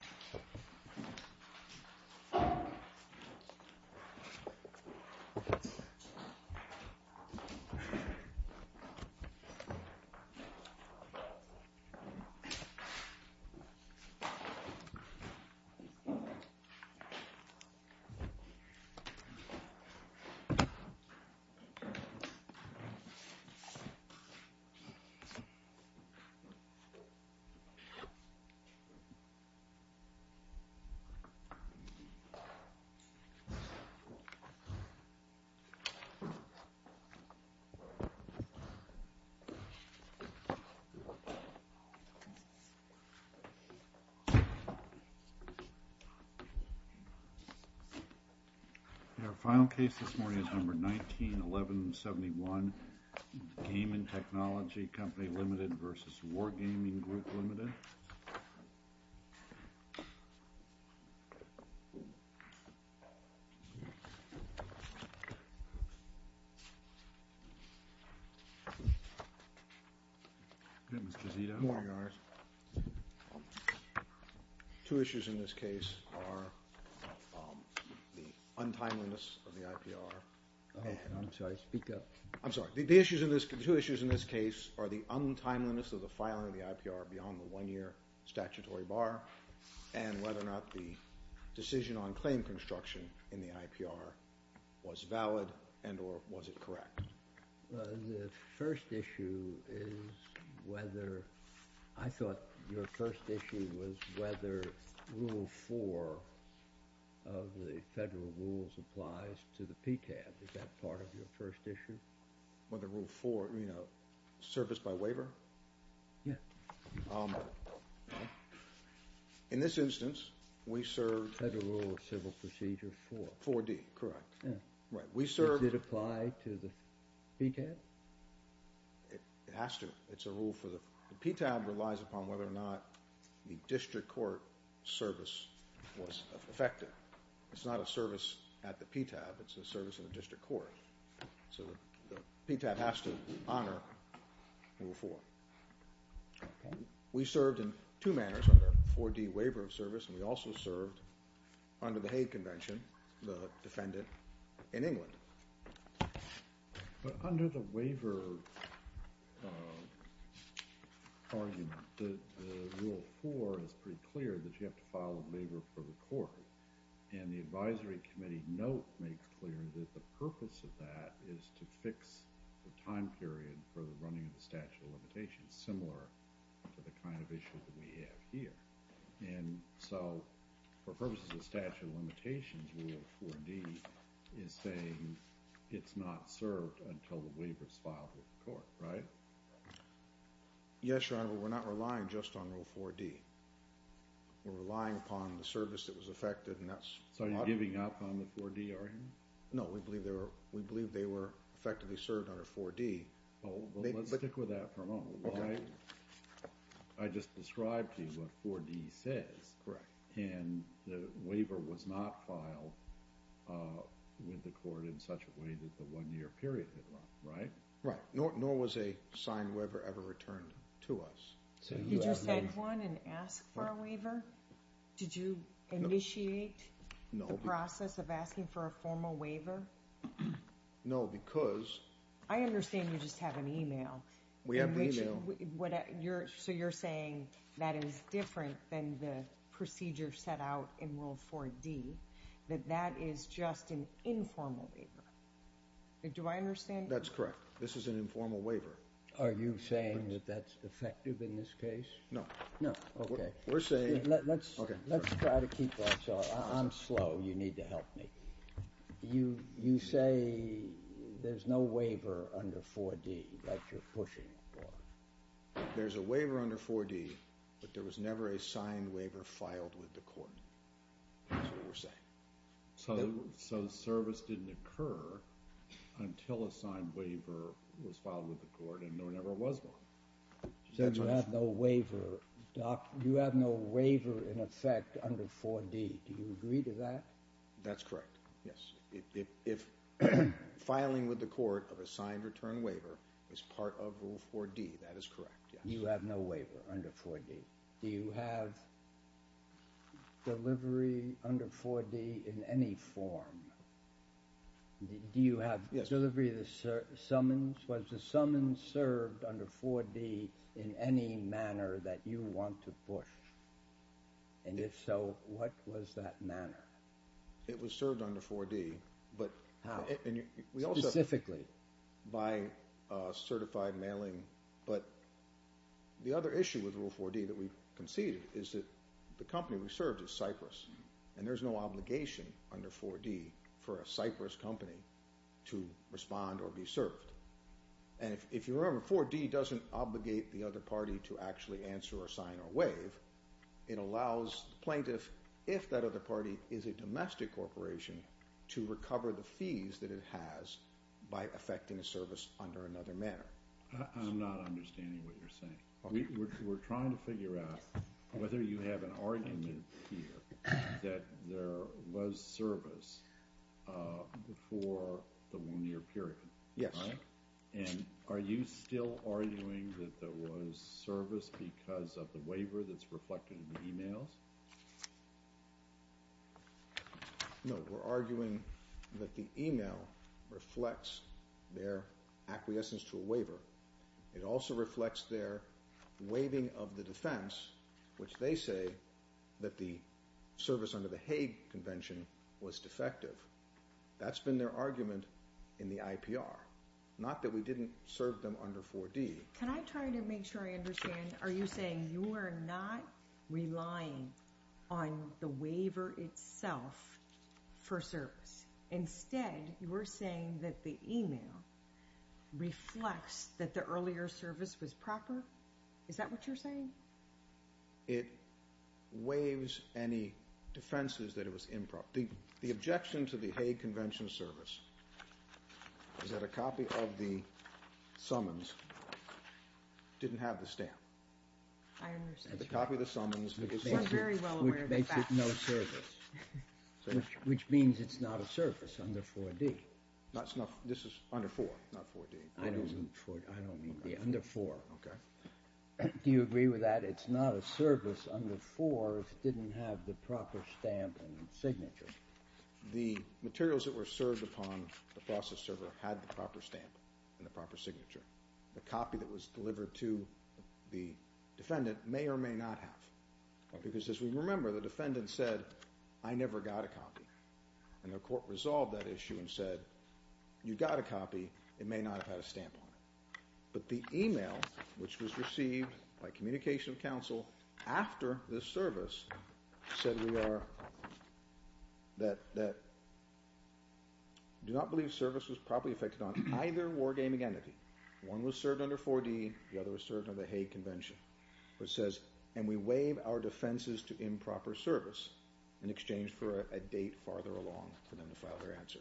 We have a two issues in this case are the untimeliness of the filing of the IPR beyond the one-year statutory bar, and whether or not the decision on claim construction in the IPR was valid and or was it correct. The first issue is whether, I thought your first issue was whether rule four of the federal rules applies to the PCAB. Is that part of your first issue? Well, the rule four, you know, service by waiver. In this instance, we serve federal civil procedure for 4D, correct. We serve. Does it apply to the PTAB? It has to. It's a rule for the PTAB relies upon whether or not the district court service was effective. It's not a service at the PTAB, it's a service in the district court. So the PTAB has to honor rule four. We served in two manners under 4D waiver of service, and we also served under the Hague Convention, the defendant in England. Under the waiver argument, the rule four is pretty clear that you have to file a waiver for the court. And the advisory committee note makes clear that the purpose of that is to fix the time period for the running of the statute of limitations similar to the kind of issues that we have here. And so for purposes of statute of limitations, rule 4D is saying it's not served until the waiver is filed with the court, right? Yes, Your Honor, but we're not relying just on rule 4D. We're relying upon the service that was effected. So you're giving up on the 4D argument? No, we believe they were effectively served under 4D. Let's stick with that for a moment. I just described to you what 4D says, and the waiver was not filed with the court in such a way that the one-year period was, right? Right, nor was a signed waiver ever returned to us. Did you send one and ask for a waiver? Did you initiate the process of asking for a formal waiver? No, because... I understand you just have an email. We have the email. So you're saying that is different than the procedure set out in rule 4D, that that is just an informal waiver. Do I understand you? That's correct. This is an informal waiver. Are you saying that that's effective in this case? No, no. Okay. We're saying... Let's try to keep this up. I'm slow. You need to help me. You say there's no waiver under 4D that you're pushing for. There's a waiver under 4D, but there was never a signed waiver filed with the court. That's what we're saying. So service didn't occur until a signed waiver was filed with the court and there never was one. So you have no waiver. You have no waiver in effect under 4D. Do you agree to that? That's correct, yes. If filing with the court of a signed return waiver is part of Rule 4D, that is correct, yes. You have no waiver under 4D. Do you have delivery under 4D in any form? Do you have delivery of the summons? Was the summons served under 4D in any manner that you want to push? And if so, what was that manner? It was served under 4D. How? Specifically. By certified mailing. But the other issue with Rule 4D that we've conceded is that the company we served is Cypress, and there's no obligation under 4D for a Cypress company to respond or be served. And if you remember, 4D doesn't obligate the other party to actually answer or sign or waive. It allows the plaintiff, if that other party is a domestic corporation, to recover the fees that it has by effecting a service under another manner. I'm not understanding what you're saying. We're trying to figure out whether you have an argument here that there was service before the one-year period. Yes. And are you still arguing that there was service because of the waiver that's reflected in the e-mails? No, we're arguing that the e-mail reflects their acquiescence to a waiver. It also reflects their waiving of the defense, which they say that the service under the Hague Convention was defective. That's been their argument in the IPR, not that we didn't serve them under 4D. Can I try to make sure I understand? Are you saying you are not relying on the waiver itself for service? Instead, you're saying that the e-mail reflects that the earlier service was proper? Is that what you're saying? It waives any defenses that it was improper. The objection to the Hague Convention service is that a copy of the summons didn't have the stamp. I understand. It's a copy of the summons. We're very well aware of the fact. Which means it's not a service under 4D. This is under 4, not 4D. I don't mean 4D. Under 4. Okay. Do you agree with that? It's not a service under 4 if it didn't have the proper stamp and signature. The materials that were served upon the process server had the proper stamp and the proper signature. The copy that was delivered to the defendant may or may not have. Because as we remember, the defendant said, I never got a copy. And the court resolved that issue and said, you got a copy, it may not have had a stamp on it. But the e-mail, which was received by communication counsel after this service, said we are, that, do not believe service was properly effected on either wargaming entity. One was served under 4D, the other was served under the Hague Convention. Which says, and we waive our defenses to improper service in exchange for a date farther along for them to file their answer.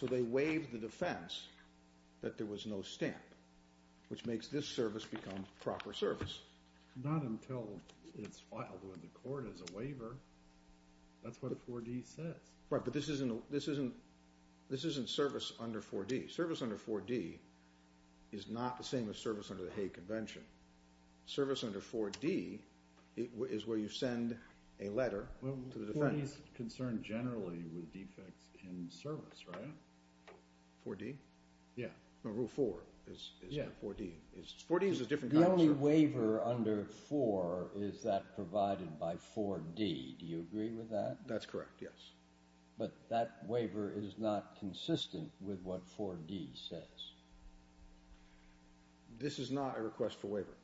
So they waived the defense that there was no stamp, which makes this service become proper service. Not until it's filed with the court as a waiver. That's what a 4D says. Right, but this isn't service under 4D. Service under 4D is not the same as service under the Hague Convention. Service under 4D is where you send a letter to the defendant. 4D is concerned generally with defects in service, right? 4D? Yeah. Rule 4 is 4D. 4D is a different kind of service. The only waiver under 4 is that provided by 4D. Do you agree with that? That's correct, yes. But that waiver is not consistent with what 4D says. This is not a request for waiver.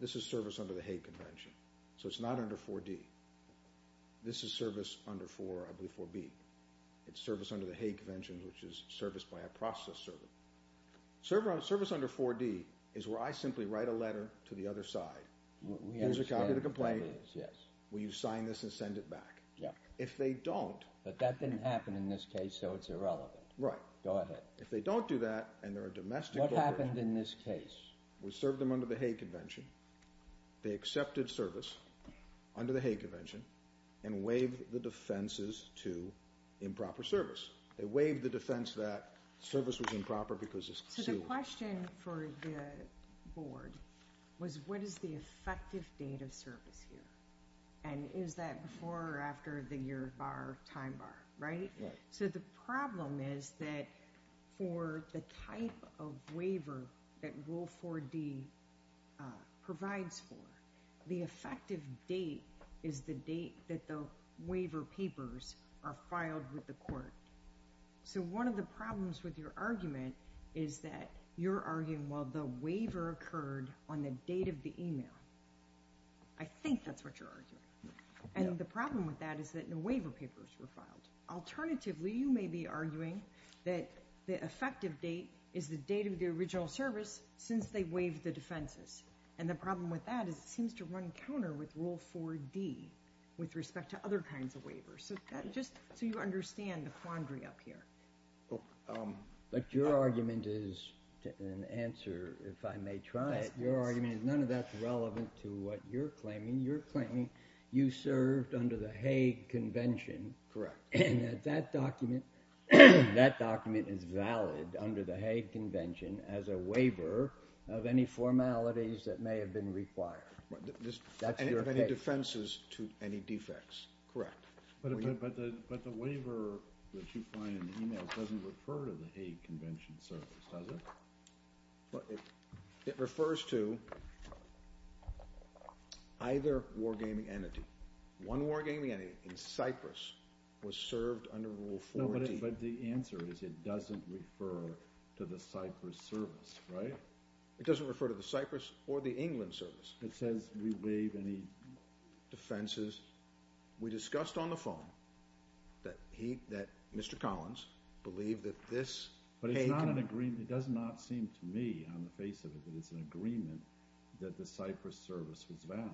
This is service under the Hague Convention. So it's not under 4D. This is service under, I believe, 4B. It's service under the Hague Convention, which is service by a process servant. Service under 4D is where I simply write a letter to the other side. Here's a copy of the complaint. Will you sign this and send it back? If they don't... But that didn't happen in this case, so it's irrelevant. Right. Go ahead. If they don't do that and they're a domestic offender... What happened in this case? We served them under the Hague Convention. They accepted service under the Hague Convention and waived the defenses to improper service. They waived the defense that service was improper because it's concealed. So the question for the board was, what is the effective date of service here? And is that before or after the year bar or time bar, right? So the problem is that for the type of waiver that Rule 4D provides for, the effective date is the date that the waiver papers are filed with the court. So one of the problems with your argument is that you're arguing, well, the waiver occurred on the date of the email. I think that's what you're arguing. And the problem with that is that no waiver papers were filed. Alternatively, you may be arguing that the effective date is the date of the original service since they waived the defenses. And the problem with that is it seems to run counter with Rule 4D with respect to other kinds of waivers. So just so you understand the quandary up here. But your argument is an answer, if I may try it. Your argument is none of that's relevant to what you're claiming. You're claiming you served under the Hague Convention. Correct. And that document is valid under the Hague Convention as a waiver of any formalities that may have been required. You have any defenses to any defects. Correct. But the waiver that you find in the email doesn't refer to the Hague Convention service, does it? It refers to either war gaming entity. One war gaming entity in Cyprus was served under Rule 4D. No, but the answer is it doesn't refer to the Cyprus service, right? It doesn't refer to the Cyprus or the England service. It says we waive any defenses. We discussed on the phone that Mr. Collins believed that this Hague— But it's not an agreement. It does not seem to me on the face of it that it's an agreement that the Cyprus service was valid.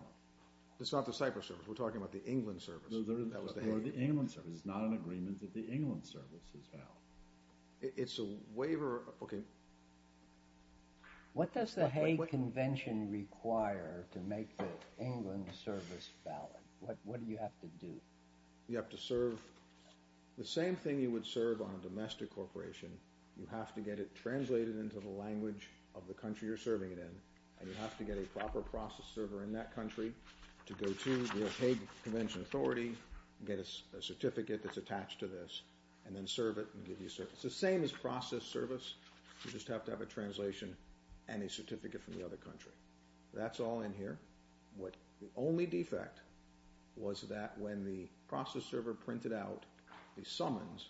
It's not the Cyprus service. We're talking about the England service. No, the England service. It's not an agreement that the England service is valid. It's a waiver. Okay. What does the Hague Convention require to make the England service valid? What do you have to do? You have to serve the same thing you would serve on a domestic corporation. You have to get it translated into the language of the country you're serving it in, and you have to get a proper process server in that country to go to the Hague Convention Authority, get a certificate that's attached to this, and then serve it and give you a service. It's the same as process service. You just have to have a translation and a certificate from the other country. That's all in here. The only defect was that when the process server printed out the summons,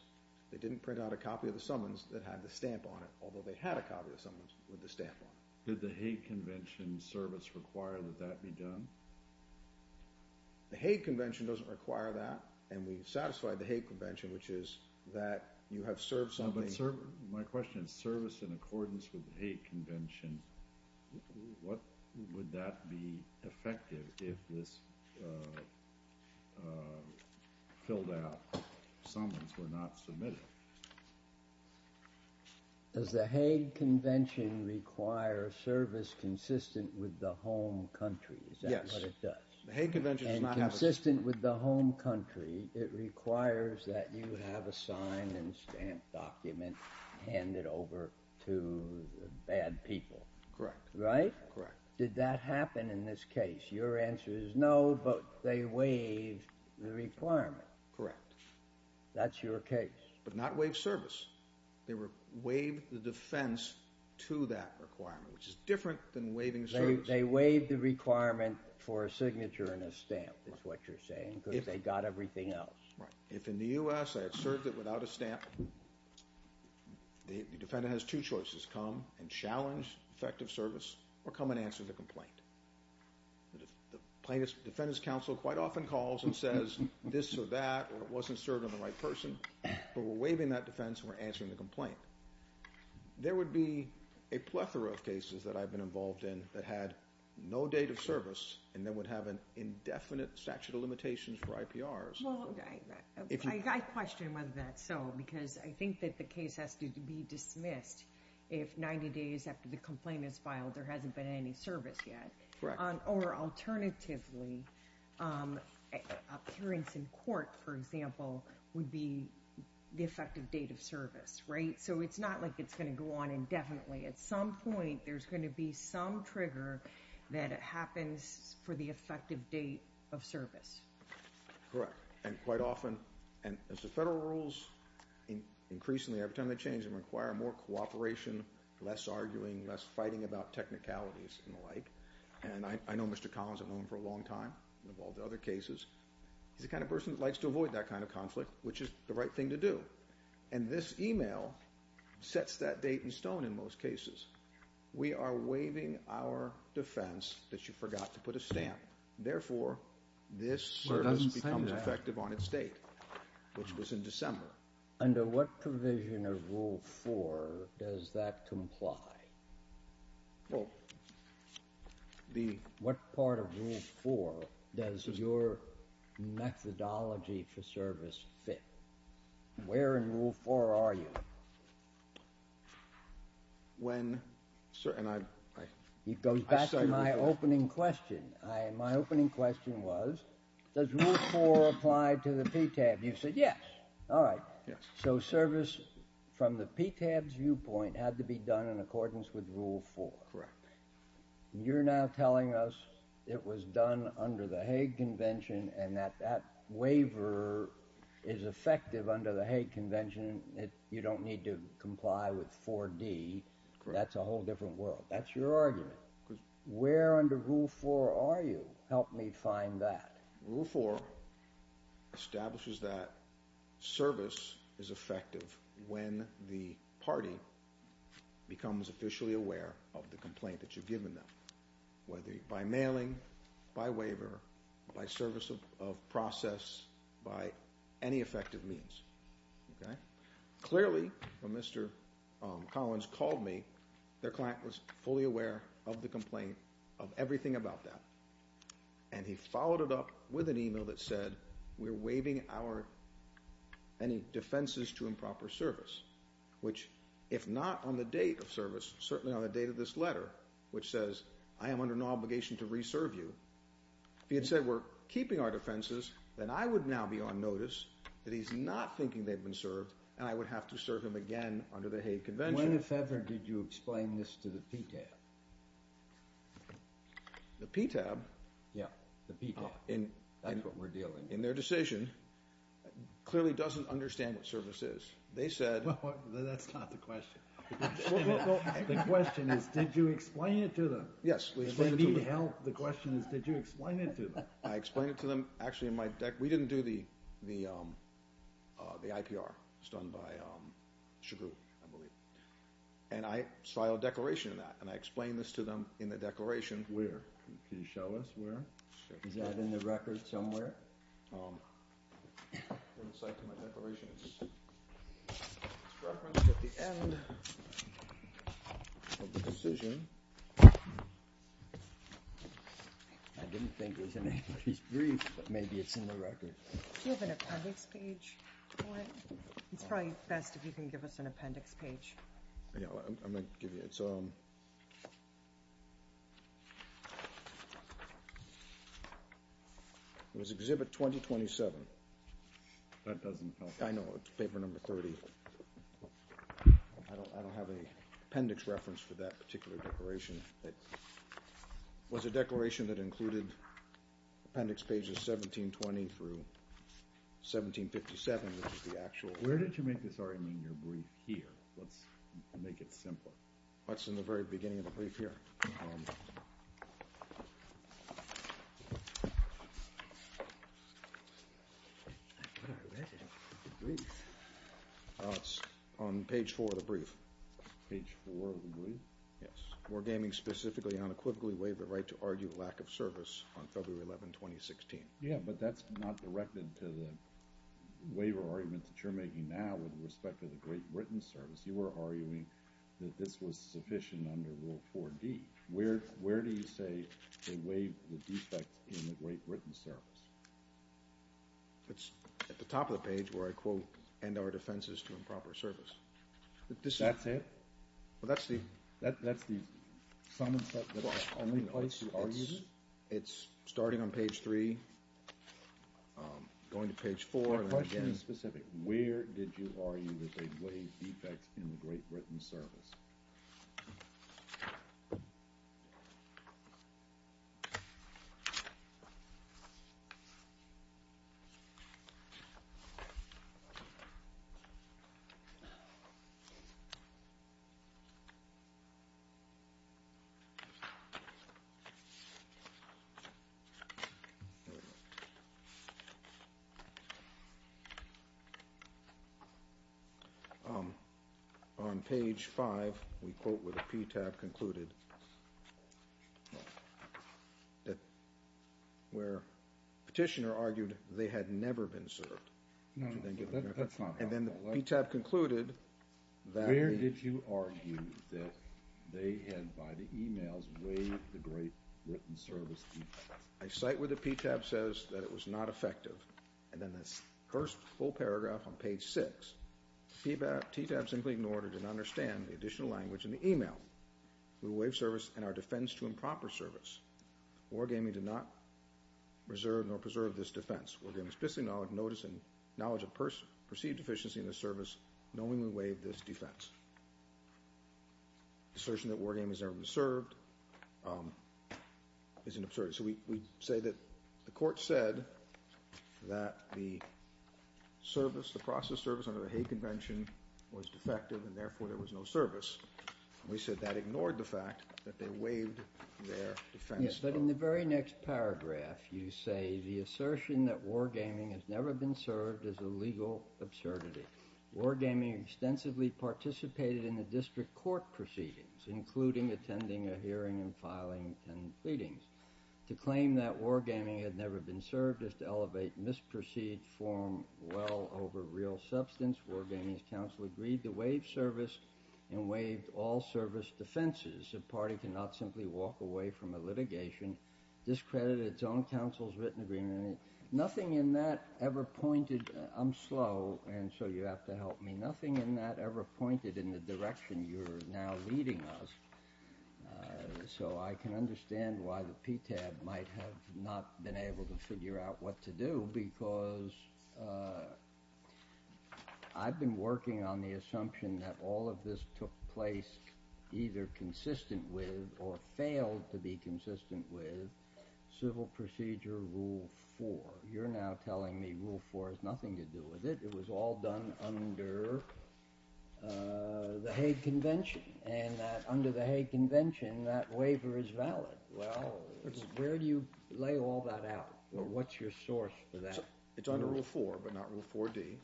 they didn't print out a copy of the summons that had the stamp on it, although they had a copy of the summons with the stamp on it. Did the Hague Convention service require that that be done? The Hague Convention doesn't require that, and we've satisfied the Hague Convention, which is that you have served something. My question is service in accordance with the Hague Convention, what would that be effective if this filled out summons were not submitted? Does the Hague Convention require service consistent with the home country? Is that what it does? Yes. The Hague Convention does not have a service. And consistent with the home country, it requires that you have a signed and stamped document handed over to bad people. Correct. Right? Correct. Did that happen in this case? Your answer is no, but they waived the requirement. Correct. That's your case. But not waived service. They waived the defense to that requirement, which is different than waiving service. They waived the requirement for a signature and a stamp, is what you're saying, because they got everything else. Right. If in the U.S. I had served it without a stamp, the defendant has two choices, come and challenge effective service or come and answer the complaint. The defendant's counsel quite often calls and says this or that, or it wasn't served on the right person, but we're waiving that defense and we're answering the complaint. There would be a plethora of cases that I've been involved in that had no date of service and then would have an indefinite statute of limitations for IPRs. Well, I question whether that's so, because I think that the case has to be dismissed if 90 days after the complaint is filed there hasn't been any service yet. Correct. Or alternatively, appearance in court, for example, would be the effective date of service, right? So it's not like it's going to go on indefinitely. At some point there's going to be some trigger that happens for the effective date of service. Correct. And quite often, as the federal rules increasingly, every time they change them, require more cooperation, less arguing, less fighting about technicalities and the like. And I know Mr. Collins. I've known him for a long time, involved in other cases. He's the kind of person that likes to avoid that kind of conflict, which is the right thing to do. And this email sets that date in stone in most cases. We are waiving our defense that you forgot to put a stamp. Therefore, this service becomes effective on its date, which was in December. Under what provision of Rule 4 does that comply? Well, the— What part of Rule 4 does your methodology for service fit? Where in Rule 4 are you? When—and I— It goes back to my opening question. My opening question was, does Rule 4 apply to the PTAB? You said yes. All right. So service from the PTAB's viewpoint had to be done in accordance with Rule 4. Correct. You're now telling us it was done under the Hague Convention and that that waiver is effective under the Hague Convention and you don't need to comply with 4D. Correct. That's a whole different world. That's your argument. Where under Rule 4 are you? Help me find that. Rule 4 establishes that service is effective when the party becomes officially aware of the complaint that you've given them, whether by mailing, by waiver, by service of process, by any effective means. Clearly, when Mr. Collins called me, their client was fully aware of the complaint, of everything about that, and he followed it up with an email that said, we're waiving any defenses to improper service, which if not on the date of service, certainly on the date of this letter, which says I am under no obligation to re-serve you, if he had said we're keeping our defenses, then I would now be on notice that he's not thinking they've been served and I would have to serve him again under the Hague Convention. When, if ever, did you explain this to the PTAB? The PTAB? Yeah, the PTAB. That's what we're dealing with. In their decision, clearly doesn't understand what service is. They said... Well, that's not the question. The question is, did you explain it to them? Yes, we explained it to them. If they need help, the question is, did you explain it to them? I explained it to them. Actually, we didn't do the IPR. It was done by Chagut, I believe. And I filed a declaration in that, and I explained this to them in the declaration. Where? Can you show us where? Is that in the record somewhere? On the side of my declaration, it's referenced at the end of the decision. I didn't think it was in Angie's brief, but maybe it's in the record. Do you have an appendix page? It's probably best if you can give us an appendix page. I'm going to give you it. It was Exhibit 2027. That doesn't help. I know, it's paper number 30. I don't have an appendix reference for that particular declaration. It was a declaration that included appendix pages 1720 through 1757, which is the actual... Where did you make this argument in your brief here? Let's make it simple. It's in the very beginning of the brief here. It's on page 4 of the brief. Page 4 of the brief? Yes. Wargaming specifically unequivocally waived the right to argue lack of service on February 11, 2016. Yes, but that's not directed to the waiver argument that you're making now with respect to the Great Britain Service. You were arguing that this was sufficient under Rule 4D. Where do you say they waived the defect in the Great Britain Service? It's at the top of the page where I quote, end our defenses to improper service. That's it? That's the summons that's the only place you argue? It's starting on page 3, going to page 4. My question is specific. Where did you argue that they waived defects in the Great Britain Service? There we go. On page 5, we quote where the PTAB concluded where Petitioner argued they had never been served. No, that's not right. And then the PTAB concluded that they Where did you argue that they had, by the e-mails, waived the Great Britain Service defects? I cite where the PTAB says that it was not effective. And then the first full paragraph on page 6, assertion that war gaming has never been served is an absurdity. So we say that the court said that the service, the process service under the Hague Convention was defective and therefore there was no service. We said that ignored the fact that they waived their defense. But in the very next paragraph, you say the assertion that war gaming has never been served is a legal absurdity. War gaming extensively participated in the district court proceedings, including attending a hearing and filing and pleadings. To claim that war gaming had never been served is to elevate misperceived form well over real substance. War gaming's counsel agreed to waive service and waive all service defenses. A party cannot simply walk away from a litigation discredited its own counsel's written agreement. Nothing in that ever pointed, I'm slow and so you have to help me. Nothing in that ever pointed in the direction you're now leading us. So I can understand why the PTAB might have not been able to figure out what to do because I've been working on the assumption that all of this took place either consistent with or failed to be consistent with civil procedure rule 4. But you're now telling me rule 4 has nothing to do with it. It was all done under the Hague Convention and that under the Hague Convention that waiver is valid. Well, where do you lay all that out? What's your source for that? It's under rule 4 but not rule 4D.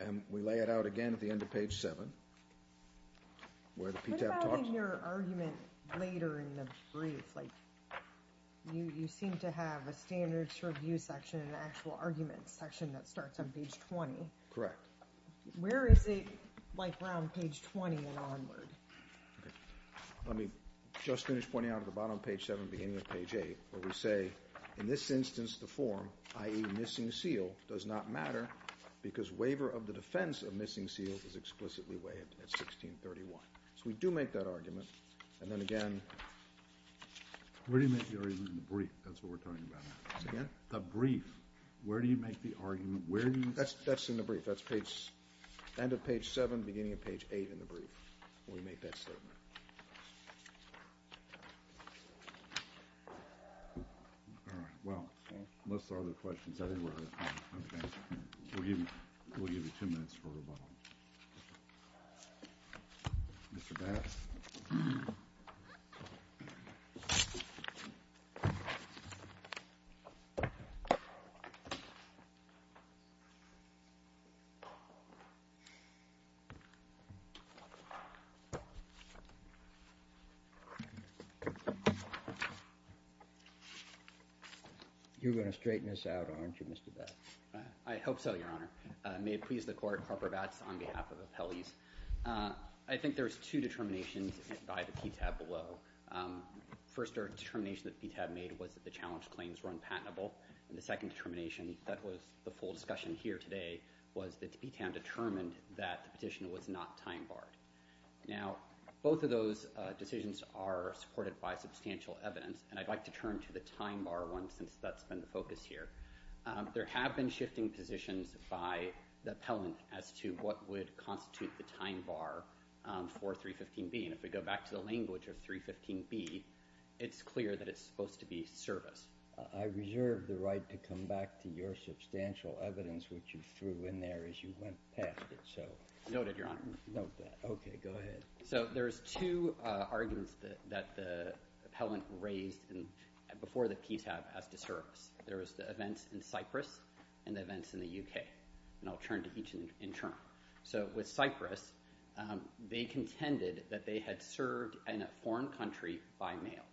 And we lay it out again at the end of page 7 where the PTAB talks about it. What about in your argument later in the brief? You seem to have a standards review section, an actual argument section that starts on page 20. Correct. Where is it like around page 20 and onward? Let me just finish pointing out at the bottom of page 7 beginning of page 8 where we say in this instance the form, i.e. missing seal, does not matter because waiver of the defense of missing seals is explicitly weighed at 1631. So we do make that argument. And then again. Where do you make the argument in the brief? That's what we're talking about. Again? The brief. Where do you make the argument? That's in the brief. That's end of page 7, beginning of page 8 in the brief where we make that statement. All right. Well, unless there are other questions, I think we're out of time. We'll give you two minutes for rebuttal. Mr. Batts? You're going to straighten this out, aren't you, Mr. Batts? I hope so, Your Honor. May it please the Court, Harper Batts on behalf of the appellees. I think there's two determinations by the PTAB below. The first determination that the PTAB made was that the challenge claims were unpatentable. And the second determination that was the full discussion here today was that the PTAB determined that the petition was not time-barred. Now, both of those decisions are supported by substantial evidence, and I'd like to turn to the time-bar one since that's been the focus here. There have been shifting positions by the appellant as to what would constitute the time-bar for 315B. And if we go back to the language of 315B, it's clear that it's supposed to be service. I reserve the right to come back to your substantial evidence which you threw in there as you went past it. Noted, Your Honor. Noted that. Okay, go ahead. So there's two arguments that the appellant raised before the PTAB as to service. There was the events in Cyprus and the events in the U.K., and I'll turn to each in turn. So with Cyprus, they contended that they had served in a foreign country by mail,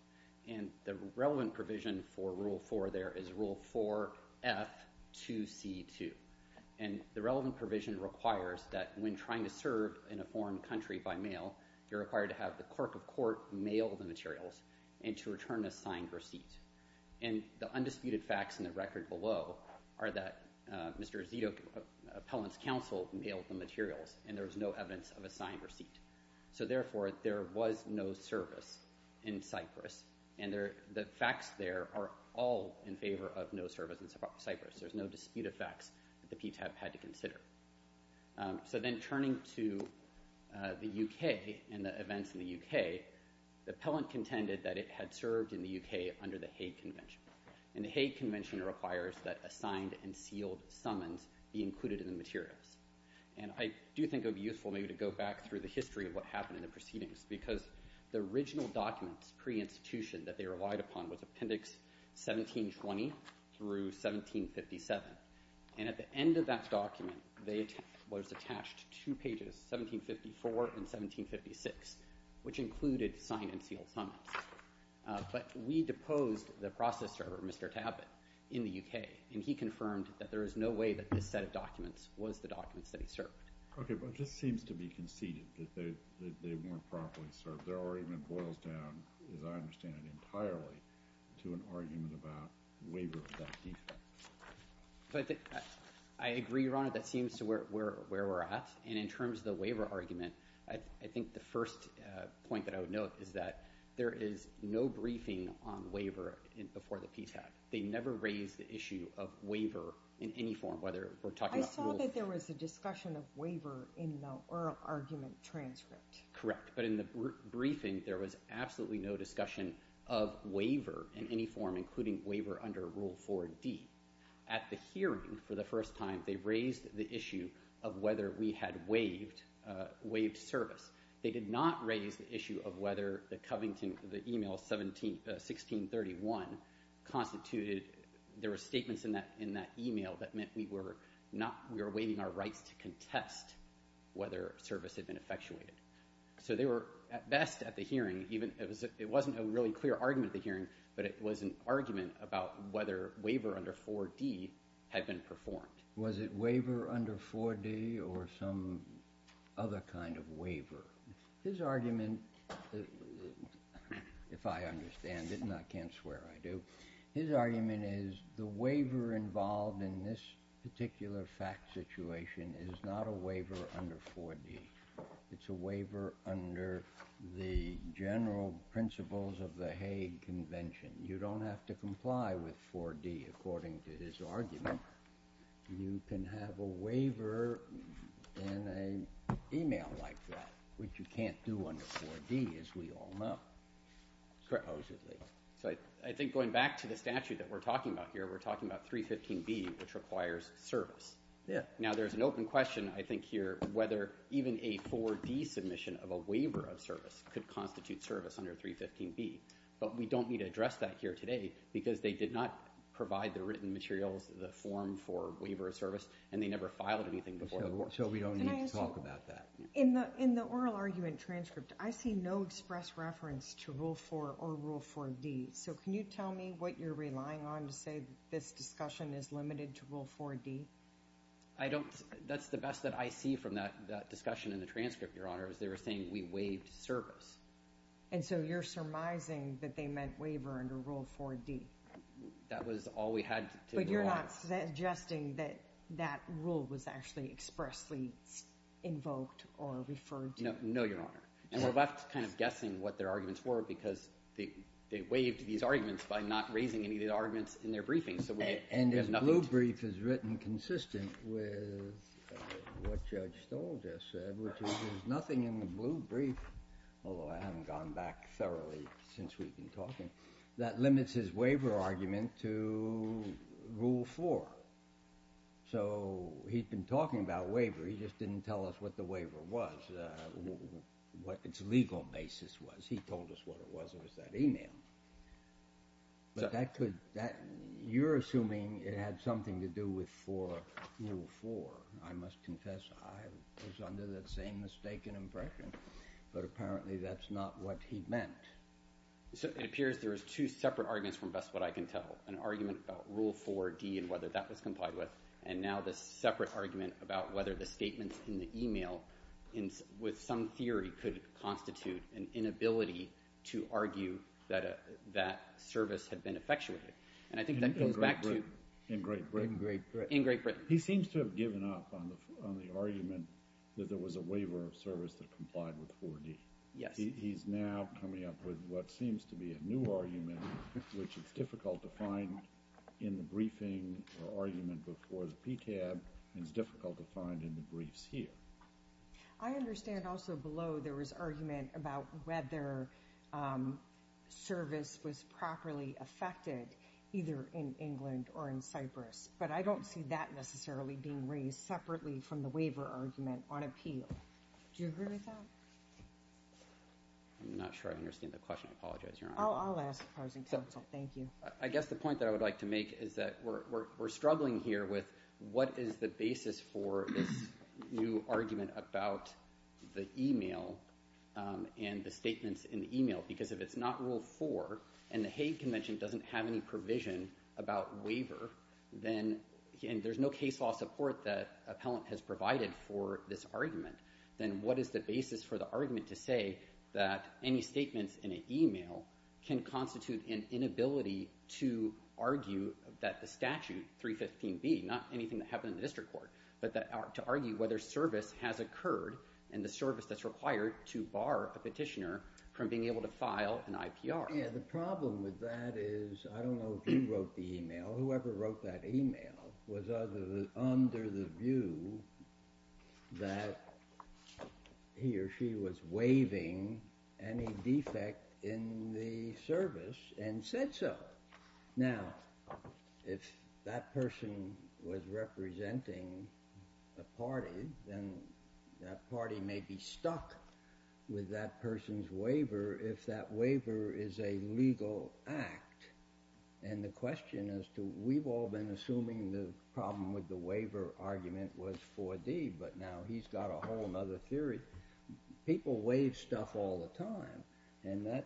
and the relevant provision for Rule 4 there is Rule 4F2C2. And the relevant provision requires that when trying to serve in a foreign country by mail, you're required to have the clerk of court mail the materials and to return a signed receipt. And the undisputed facts in the record below are that Mr. Zito, appellant's counsel, mailed the materials and there was no evidence of a signed receipt. So therefore, there was no service in Cyprus, and the facts there are all in favor of no service in Cyprus. There's no dispute of facts that the PTAB had to consider. So then turning to the U.K. and the events in the U.K., the appellant contended that it had served in the U.K. under the Hague Convention, and the Hague Convention requires that a signed and sealed summons be included in the materials. And I do think it would be useful maybe to go back through the history of what happened in the proceedings because the original documents pre-institution that they relied upon was Appendix 1720 through 1757, and at the end of that document, they was attached two pages, 1754 and 1756, which included signed and sealed summons. But we deposed the process server, Mr. Tabat, in the U.K., and he confirmed that there is no way that this set of documents was the documents that he served. Okay, but it just seems to be conceded that they weren't properly served. Their argument boils down, as I understand it entirely, to an argument about waiver of that defense. I agree, Your Honor, that seems to be where we're at, and in terms of the waiver argument, I think the first point that I would note is that there is no briefing on waiver before the PTAG. They never raised the issue of waiver in any form, whether we're talking about Rule... I saw that there was a discussion of waiver in the oral argument transcript. Correct, but in the briefing, there was absolutely no discussion of waiver in any form, including waiver under Rule 4D. At the hearing, for the first time, they raised the issue of whether we had waived service. They did not raise the issue of whether the Covington... the e-mail 1631 constituted... there were statements in that e-mail that meant we were waiving our rights to contest whether service had been effectuated. So they were, at best, at the hearing, it wasn't a really clear argument at the hearing, but it was an argument about whether waiver under 4D had been performed. Was it waiver under 4D or some other kind of waiver? His argument, if I understand it, and I can't swear I do, his argument is the waiver involved in this particular fact situation is not a waiver under 4D. It's a waiver under the general principles of the Hague Convention. You don't have to comply with 4D, according to his argument. You can have a waiver in an e-mail like that, which you can't do under 4D, as we all know, supposedly. So I think going back to the statute that we're talking about here, we're talking about 315B, which requires service. Now there's an open question, I think, here, whether even a 4D submission of a waiver of service could constitute service under 315B, but we don't need to address that here today because they did not provide the written materials, the form for waiver of service, and they never filed anything before. So we don't need to talk about that. In the oral argument transcript, I see no express reference to Rule 4 or Rule 4D, so can you tell me what you're relying on to say this discussion is limited to Rule 4D? That's the best that I see from that discussion in the transcript, Your Honor, is they were saying we waived service. And so you're surmising that they meant waiver under Rule 4D? That was all we had to rely on. But you're not suggesting that that rule was actually expressly invoked or referred to? No, Your Honor. And we're left kind of guessing what their arguments were because they waived these arguments by not raising any of the arguments in their briefings, so we have nothing. And the blue brief is written consistent with what Judge Stoler just said, which is there's nothing in the blue brief, although I haven't gone back thoroughly since we've been talking, that limits his waiver argument to Rule 4. So he's been talking about waiver. He just didn't tell us what the waiver was, what its legal basis was. He told us what it was. It was that email. But that could... You're assuming it had something to do with Rule 4. I must confess I was under that same mistaken impression, but apparently that's not what he meant. So it appears there is two separate arguments from best what I can tell, an argument about Rule 4D and whether that was complied with, and now this separate argument about whether the statements in the email, with some theory, could constitute an inability to argue that that service had been effectuated. And I think that goes back to... In Great Britain. In Great Britain. He seems to have given up on the argument that there was a waiver of service that complied with 4D. Yes. He's now coming up with what seems to be a new argument, which is difficult to find in the briefing or argument before the PCAB and is difficult to find in the briefs here. I understand also below there was argument about whether service was properly effected either in England or in Cyprus, but I don't see that necessarily being raised separately from the waiver argument on appeal. Do you agree with that? I'm not sure I understand the question. I apologize, Your Honor. I'll ask. Thank you. I guess the point that I would like to make is that we're struggling here with what is the basis for this new argument about the email and the statements in the email, because if it's not Rule 4 and the Hague Convention doesn't have any provision about waiver, and there's no case law support that appellant has provided for this argument, then what is the basis for the argument to say that any statements in an email can constitute an inability to argue that the statute 315B, not anything that happened in the district court, but to argue whether service has occurred and the service that's required to bar a petitioner from being able to file an IPR. Yeah, the problem with that is I don't know if you wrote the email. Whoever wrote that email was under the view that he or she was waiving any defect in the service and said so. Now, if that person was representing a party, then that party may be stuck with that person's waiver if that waiver is a legal act. And the question is, we've all been assuming the problem with the waiver argument was 4D, but now he's got a whole other theory. People waive stuff all the time, and that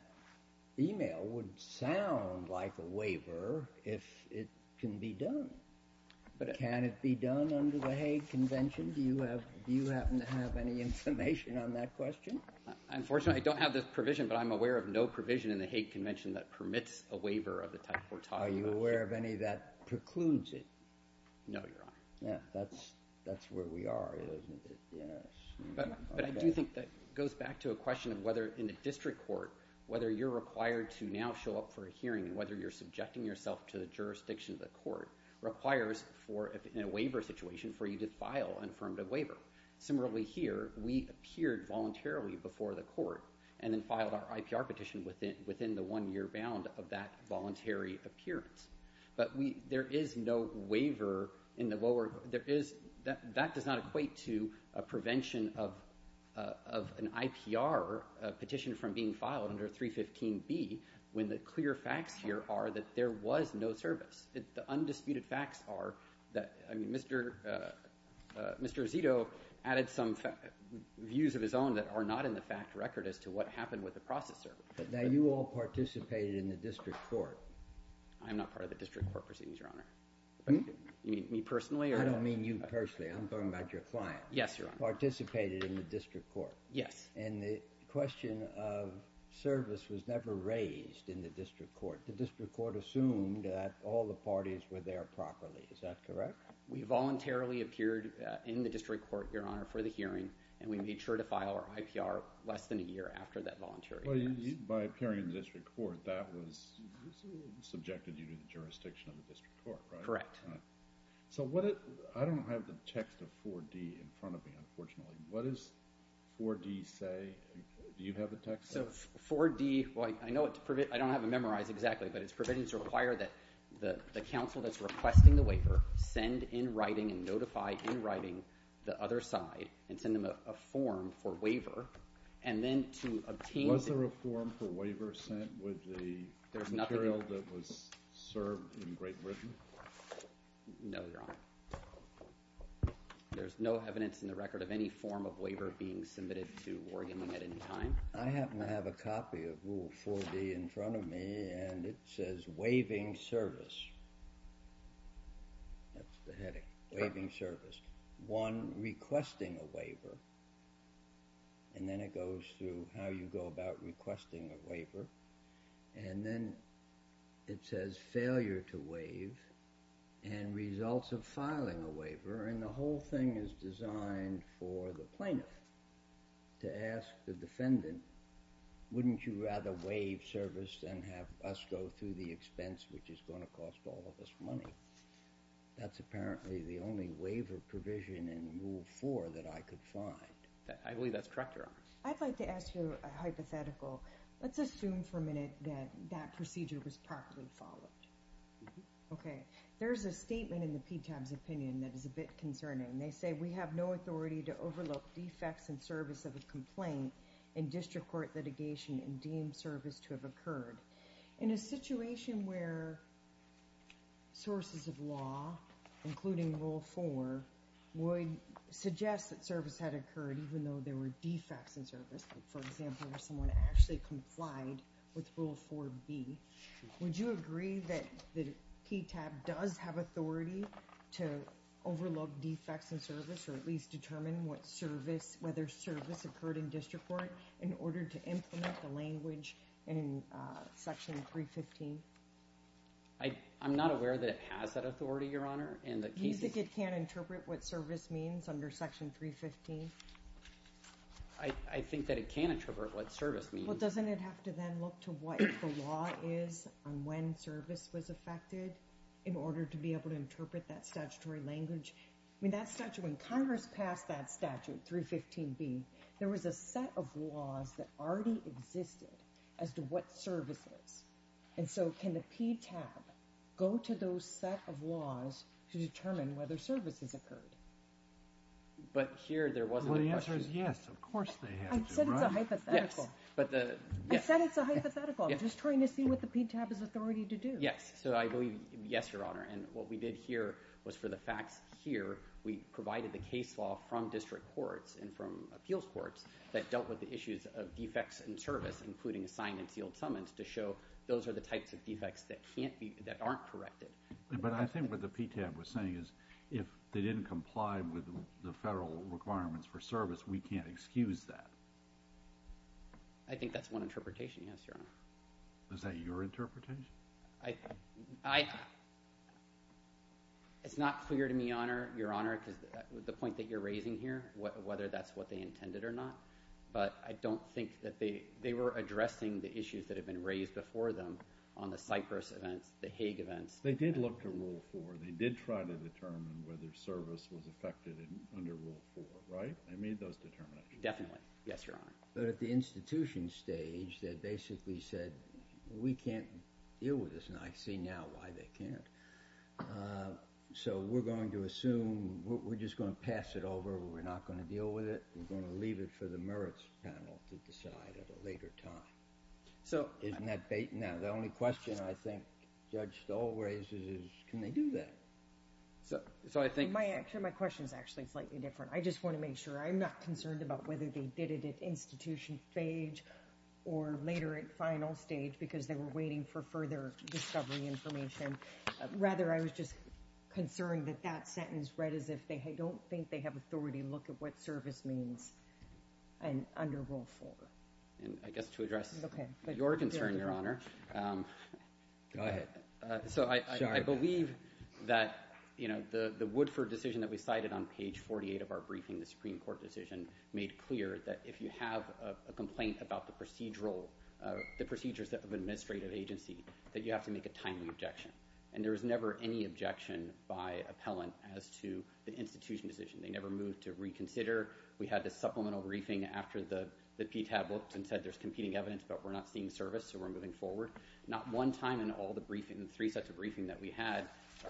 email would sound like a waiver if it can be done. But can it be done under the Hague Convention? Do you happen to have any information on that question? Unfortunately, I don't have the provision, but I'm aware of no provision in the Hague Convention that permits a waiver of the type we're talking about. Are you aware of any that precludes it? No, Your Honor. Yeah, that's where we are, isn't it? Yes. But I do think that goes back to a question of whether in a district court, whether you're required to now show up for a hearing and whether you're subjecting yourself to the jurisdiction of the court requires in a waiver situation for you to file an affirmative waiver. Similarly here, we appeared voluntarily before the court and then filed our IPR petition within the one-year bound of that voluntary appearance. But there is no waiver in the lower... That does not equate to a prevention of an IPR petition from being filed under 315B when the clear facts here are that there was no service. The undisputed facts are that... Mr. Azzitto added some views of his own that are not in the fact record as to what happened with the process service. Now, you all participated in the district court. I'm not part of the district court proceedings, Your Honor. You mean me personally? I don't mean you personally. I'm talking about your client. Yes, Your Honor. Participated in the district court. Yes. And the question of service was never raised in the district court. The district court assumed that all the parties were there properly. Is that correct? We voluntarily appeared in the district court, Your Honor, for the hearing, and we made sure to file our IPR less than a year after that voluntary appearance. By appearing in the district court, that was subjected you to the jurisdiction of the district court, right? Correct. So what... I don't have the text of 4D in front of me, unfortunately. What does 4D say? Do you have the text? So 4D... Well, I know it's... I don't have it memorized exactly, but it's provisions require that the counsel that's requesting the waiver send in writing and notify in writing the other side and send them a form for waiver and then to obtain... Was there a form for waiver sent with the material that was served in Great Britain? No, Your Honor. There's no evidence in the record of any form of waiver being submitted to Oregon at any time. I happen to have a copy of Rule 4D in front of me, and it says, Waiving Service. That's the heading, Waiving Service. One, requesting a waiver, and then it goes through how you go about requesting a waiver, and then it says Failure to Waive and Results of Filing a Waiver, and the whole thing is designed for the plaintiff to ask the defendant, Wouldn't you rather waive service than have us go through the expense which is going to cost all of us money? That's apparently the only waiver provision in Rule 4 that I could find. I believe that's correct, Your Honor. I'd like to ask you a hypothetical. Let's assume for a minute that that procedure was properly followed. Okay. There's a statement in the PTAB's opinion that is a bit concerning. They say, We have no authority to overlook defects in service of a complaint in district court litigation and deem service to have occurred. In a situation where sources of law, including Rule 4, would suggest that service had occurred even though there were defects in service, for example, where someone actually complied with Rule 4B, would you agree that the PTAB does have authority to overlook defects in service or at least determine whether service occurred in district court in order to implement the language in Section 315? I'm not aware that it has that authority, Your Honor. You think it can't interpret what service means under Section 315? I think that it can interpret what service means. Well, doesn't it have to then look to what the law is on when service was affected in order to be able to interpret that statutory language? I mean, that statute, when Congress passed that statute, 315B, there was a set of laws that already existed as to what service is. And so can the PTAB go to those set of laws to determine whether service has occurred? But here, there wasn't a question. Well, the answer is yes. Of course they have to, right? I said it's a hypothetical. Yes. I said it's a hypothetical. I'm just trying to see what the PTAB has authority to do. Yes. So I believe, yes, Your Honor. And what we did here was for the facts here, we provided the case law from district courts and from appeals courts that dealt with the issues of defects in service, including assigned and sealed summons, to show those are the types of defects that aren't corrected. But I think what the PTAB was saying is if they didn't comply with the federal requirements for service, we can't excuse that. I think that's one interpretation, yes, Your Honor. Is that your interpretation? It's not clear to me, Your Honor, because the point that you're raising here, whether that's what they intended or not, but I don't think that they were addressing the issues that had been raised before them on the Cypress events, the Hague events. They did look to Rule 4. They did try to determine whether service was affected under Rule 4, right? They made those determinations. Definitely. Yes, Your Honor. But at the institution stage, they basically said, we can't deal with this. And I see now why they can't. So we're going to assume we're just going to pass it over. We're not going to deal with it. We're going to leave it for the merits panel to decide at a later time. Isn't that bait? Now, the only question I think Judge Stoll raises is can they do that? My question is actually slightly different. I just want to make sure. I'm not concerned about whether they did it at institution stage or later at final stage because they were waiting for further discovery information. Rather, I was just concerned that that sentence read as if they don't think that they have authority to look at what service means under Rule 4. I guess to address your concern, Your Honor. Go ahead. I believe that the Woodford decision that we cited on page 48 of our briefing, the Supreme Court decision, made clear that if you have a complaint about the procedures of an administrative agency, that you have to make a timely objection. There was never any objection by appellant as to the institution decision. They never moved to reconsider. We had the supplemental briefing after the PTAB looked and said there's competing evidence, but we're not seeing service, so we're moving forward. Not one time in all the three sets of briefing that we had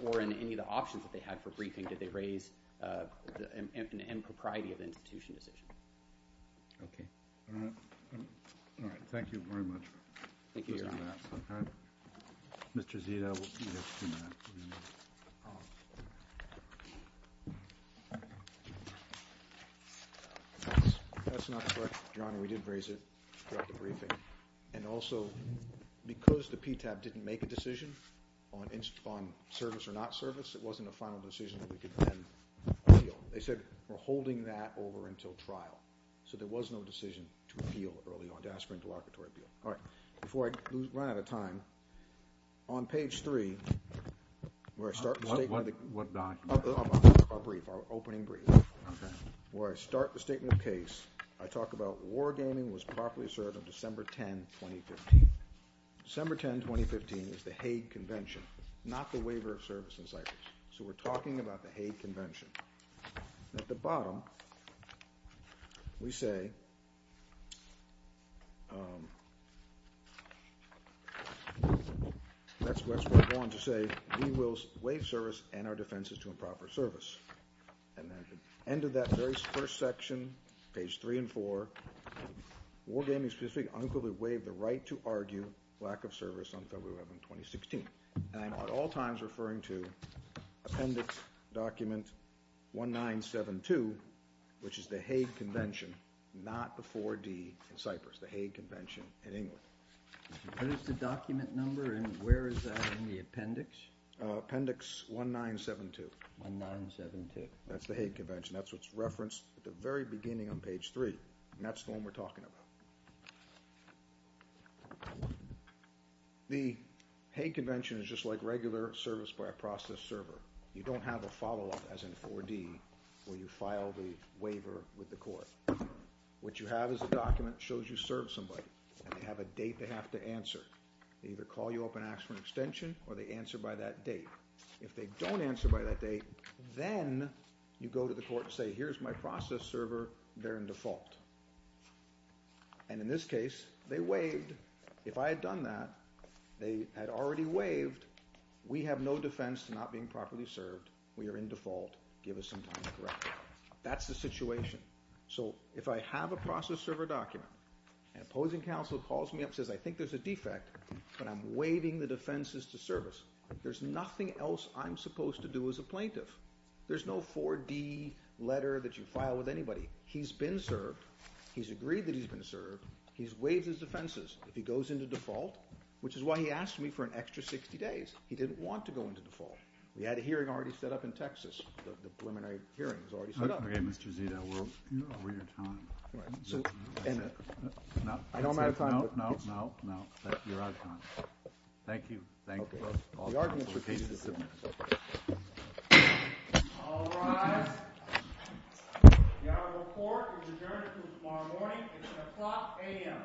or in any of the options that they had for briefing did they raise an impropriety of the institution decision. Okay. All right. Thank you very much. Thank you, Your Honor. Mr. Zita will be here in a few minutes. That's not correct, Your Honor. We did raise it throughout the briefing. And also, because the PTAB didn't make a decision on service or not service, it wasn't a final decision that we could then appeal. They said we're holding that over until trial. So there was no decision to appeal early on, to ask for interlocutory appeal. All right. Before I run out of time, on page 3, where I start the statement of case, I talk about war gaming was properly served on December 10, 2015. December 10, 2015 is the Hague Convention, not the Waiver of Service in Cyprus. So we're talking about the Hague Convention. At the bottom, we say, let's move on to say, we will waive service and our defenses to improper service. End of that very first section, page 3 and 4, war gaming specifically unequivocally waived the right to argue lack of service on February 11, 2016. And I'm at all times referring to appendix document 1972, which is the Hague Convention, not the 4D in Cyprus, the Hague Convention in England. What is the document number and where is that in the appendix? Appendix 1972. 1972. That's the Hague Convention. That's what's referenced at the very beginning on page 3, and that's the one we're talking about. The Hague Convention is just like regular service by a process server. You don't have a follow-up, as in 4D, where you file the waiver with the court. What you have is a document that shows you serve somebody, and they have a date they have to answer. They either call you up and ask for an extension, or they answer by that date. If they don't answer by that date, then you go to the court and say, here's my process server, they're in default. In this case, they waived. If I had done that, they had already waived. We have no defense to not being properly served. We are in default. Give us some time to correct that. That's the situation. If I have a process server document, an opposing counsel calls me up and says, I think there's a defect, but I'm waiving the defenses to service. There's nothing else I'm supposed to do as a plaintiff. There's no 4D letter that you file with anybody. He's been served. He's agreed that he's been served. He's waived his defenses. If he goes into default, which is why he asked me for an extra 60 days, he didn't want to go into default. We had a hearing already set up in Texas. The preliminary hearing was already set up. Okay, Mr. Zito, we're out of time. I know I'm out of time. No, no, no. You're out of time. Thank you. Thank you. Okay. All right. The audit report is adjourned until tomorrow morning at 10 o'clock a.m.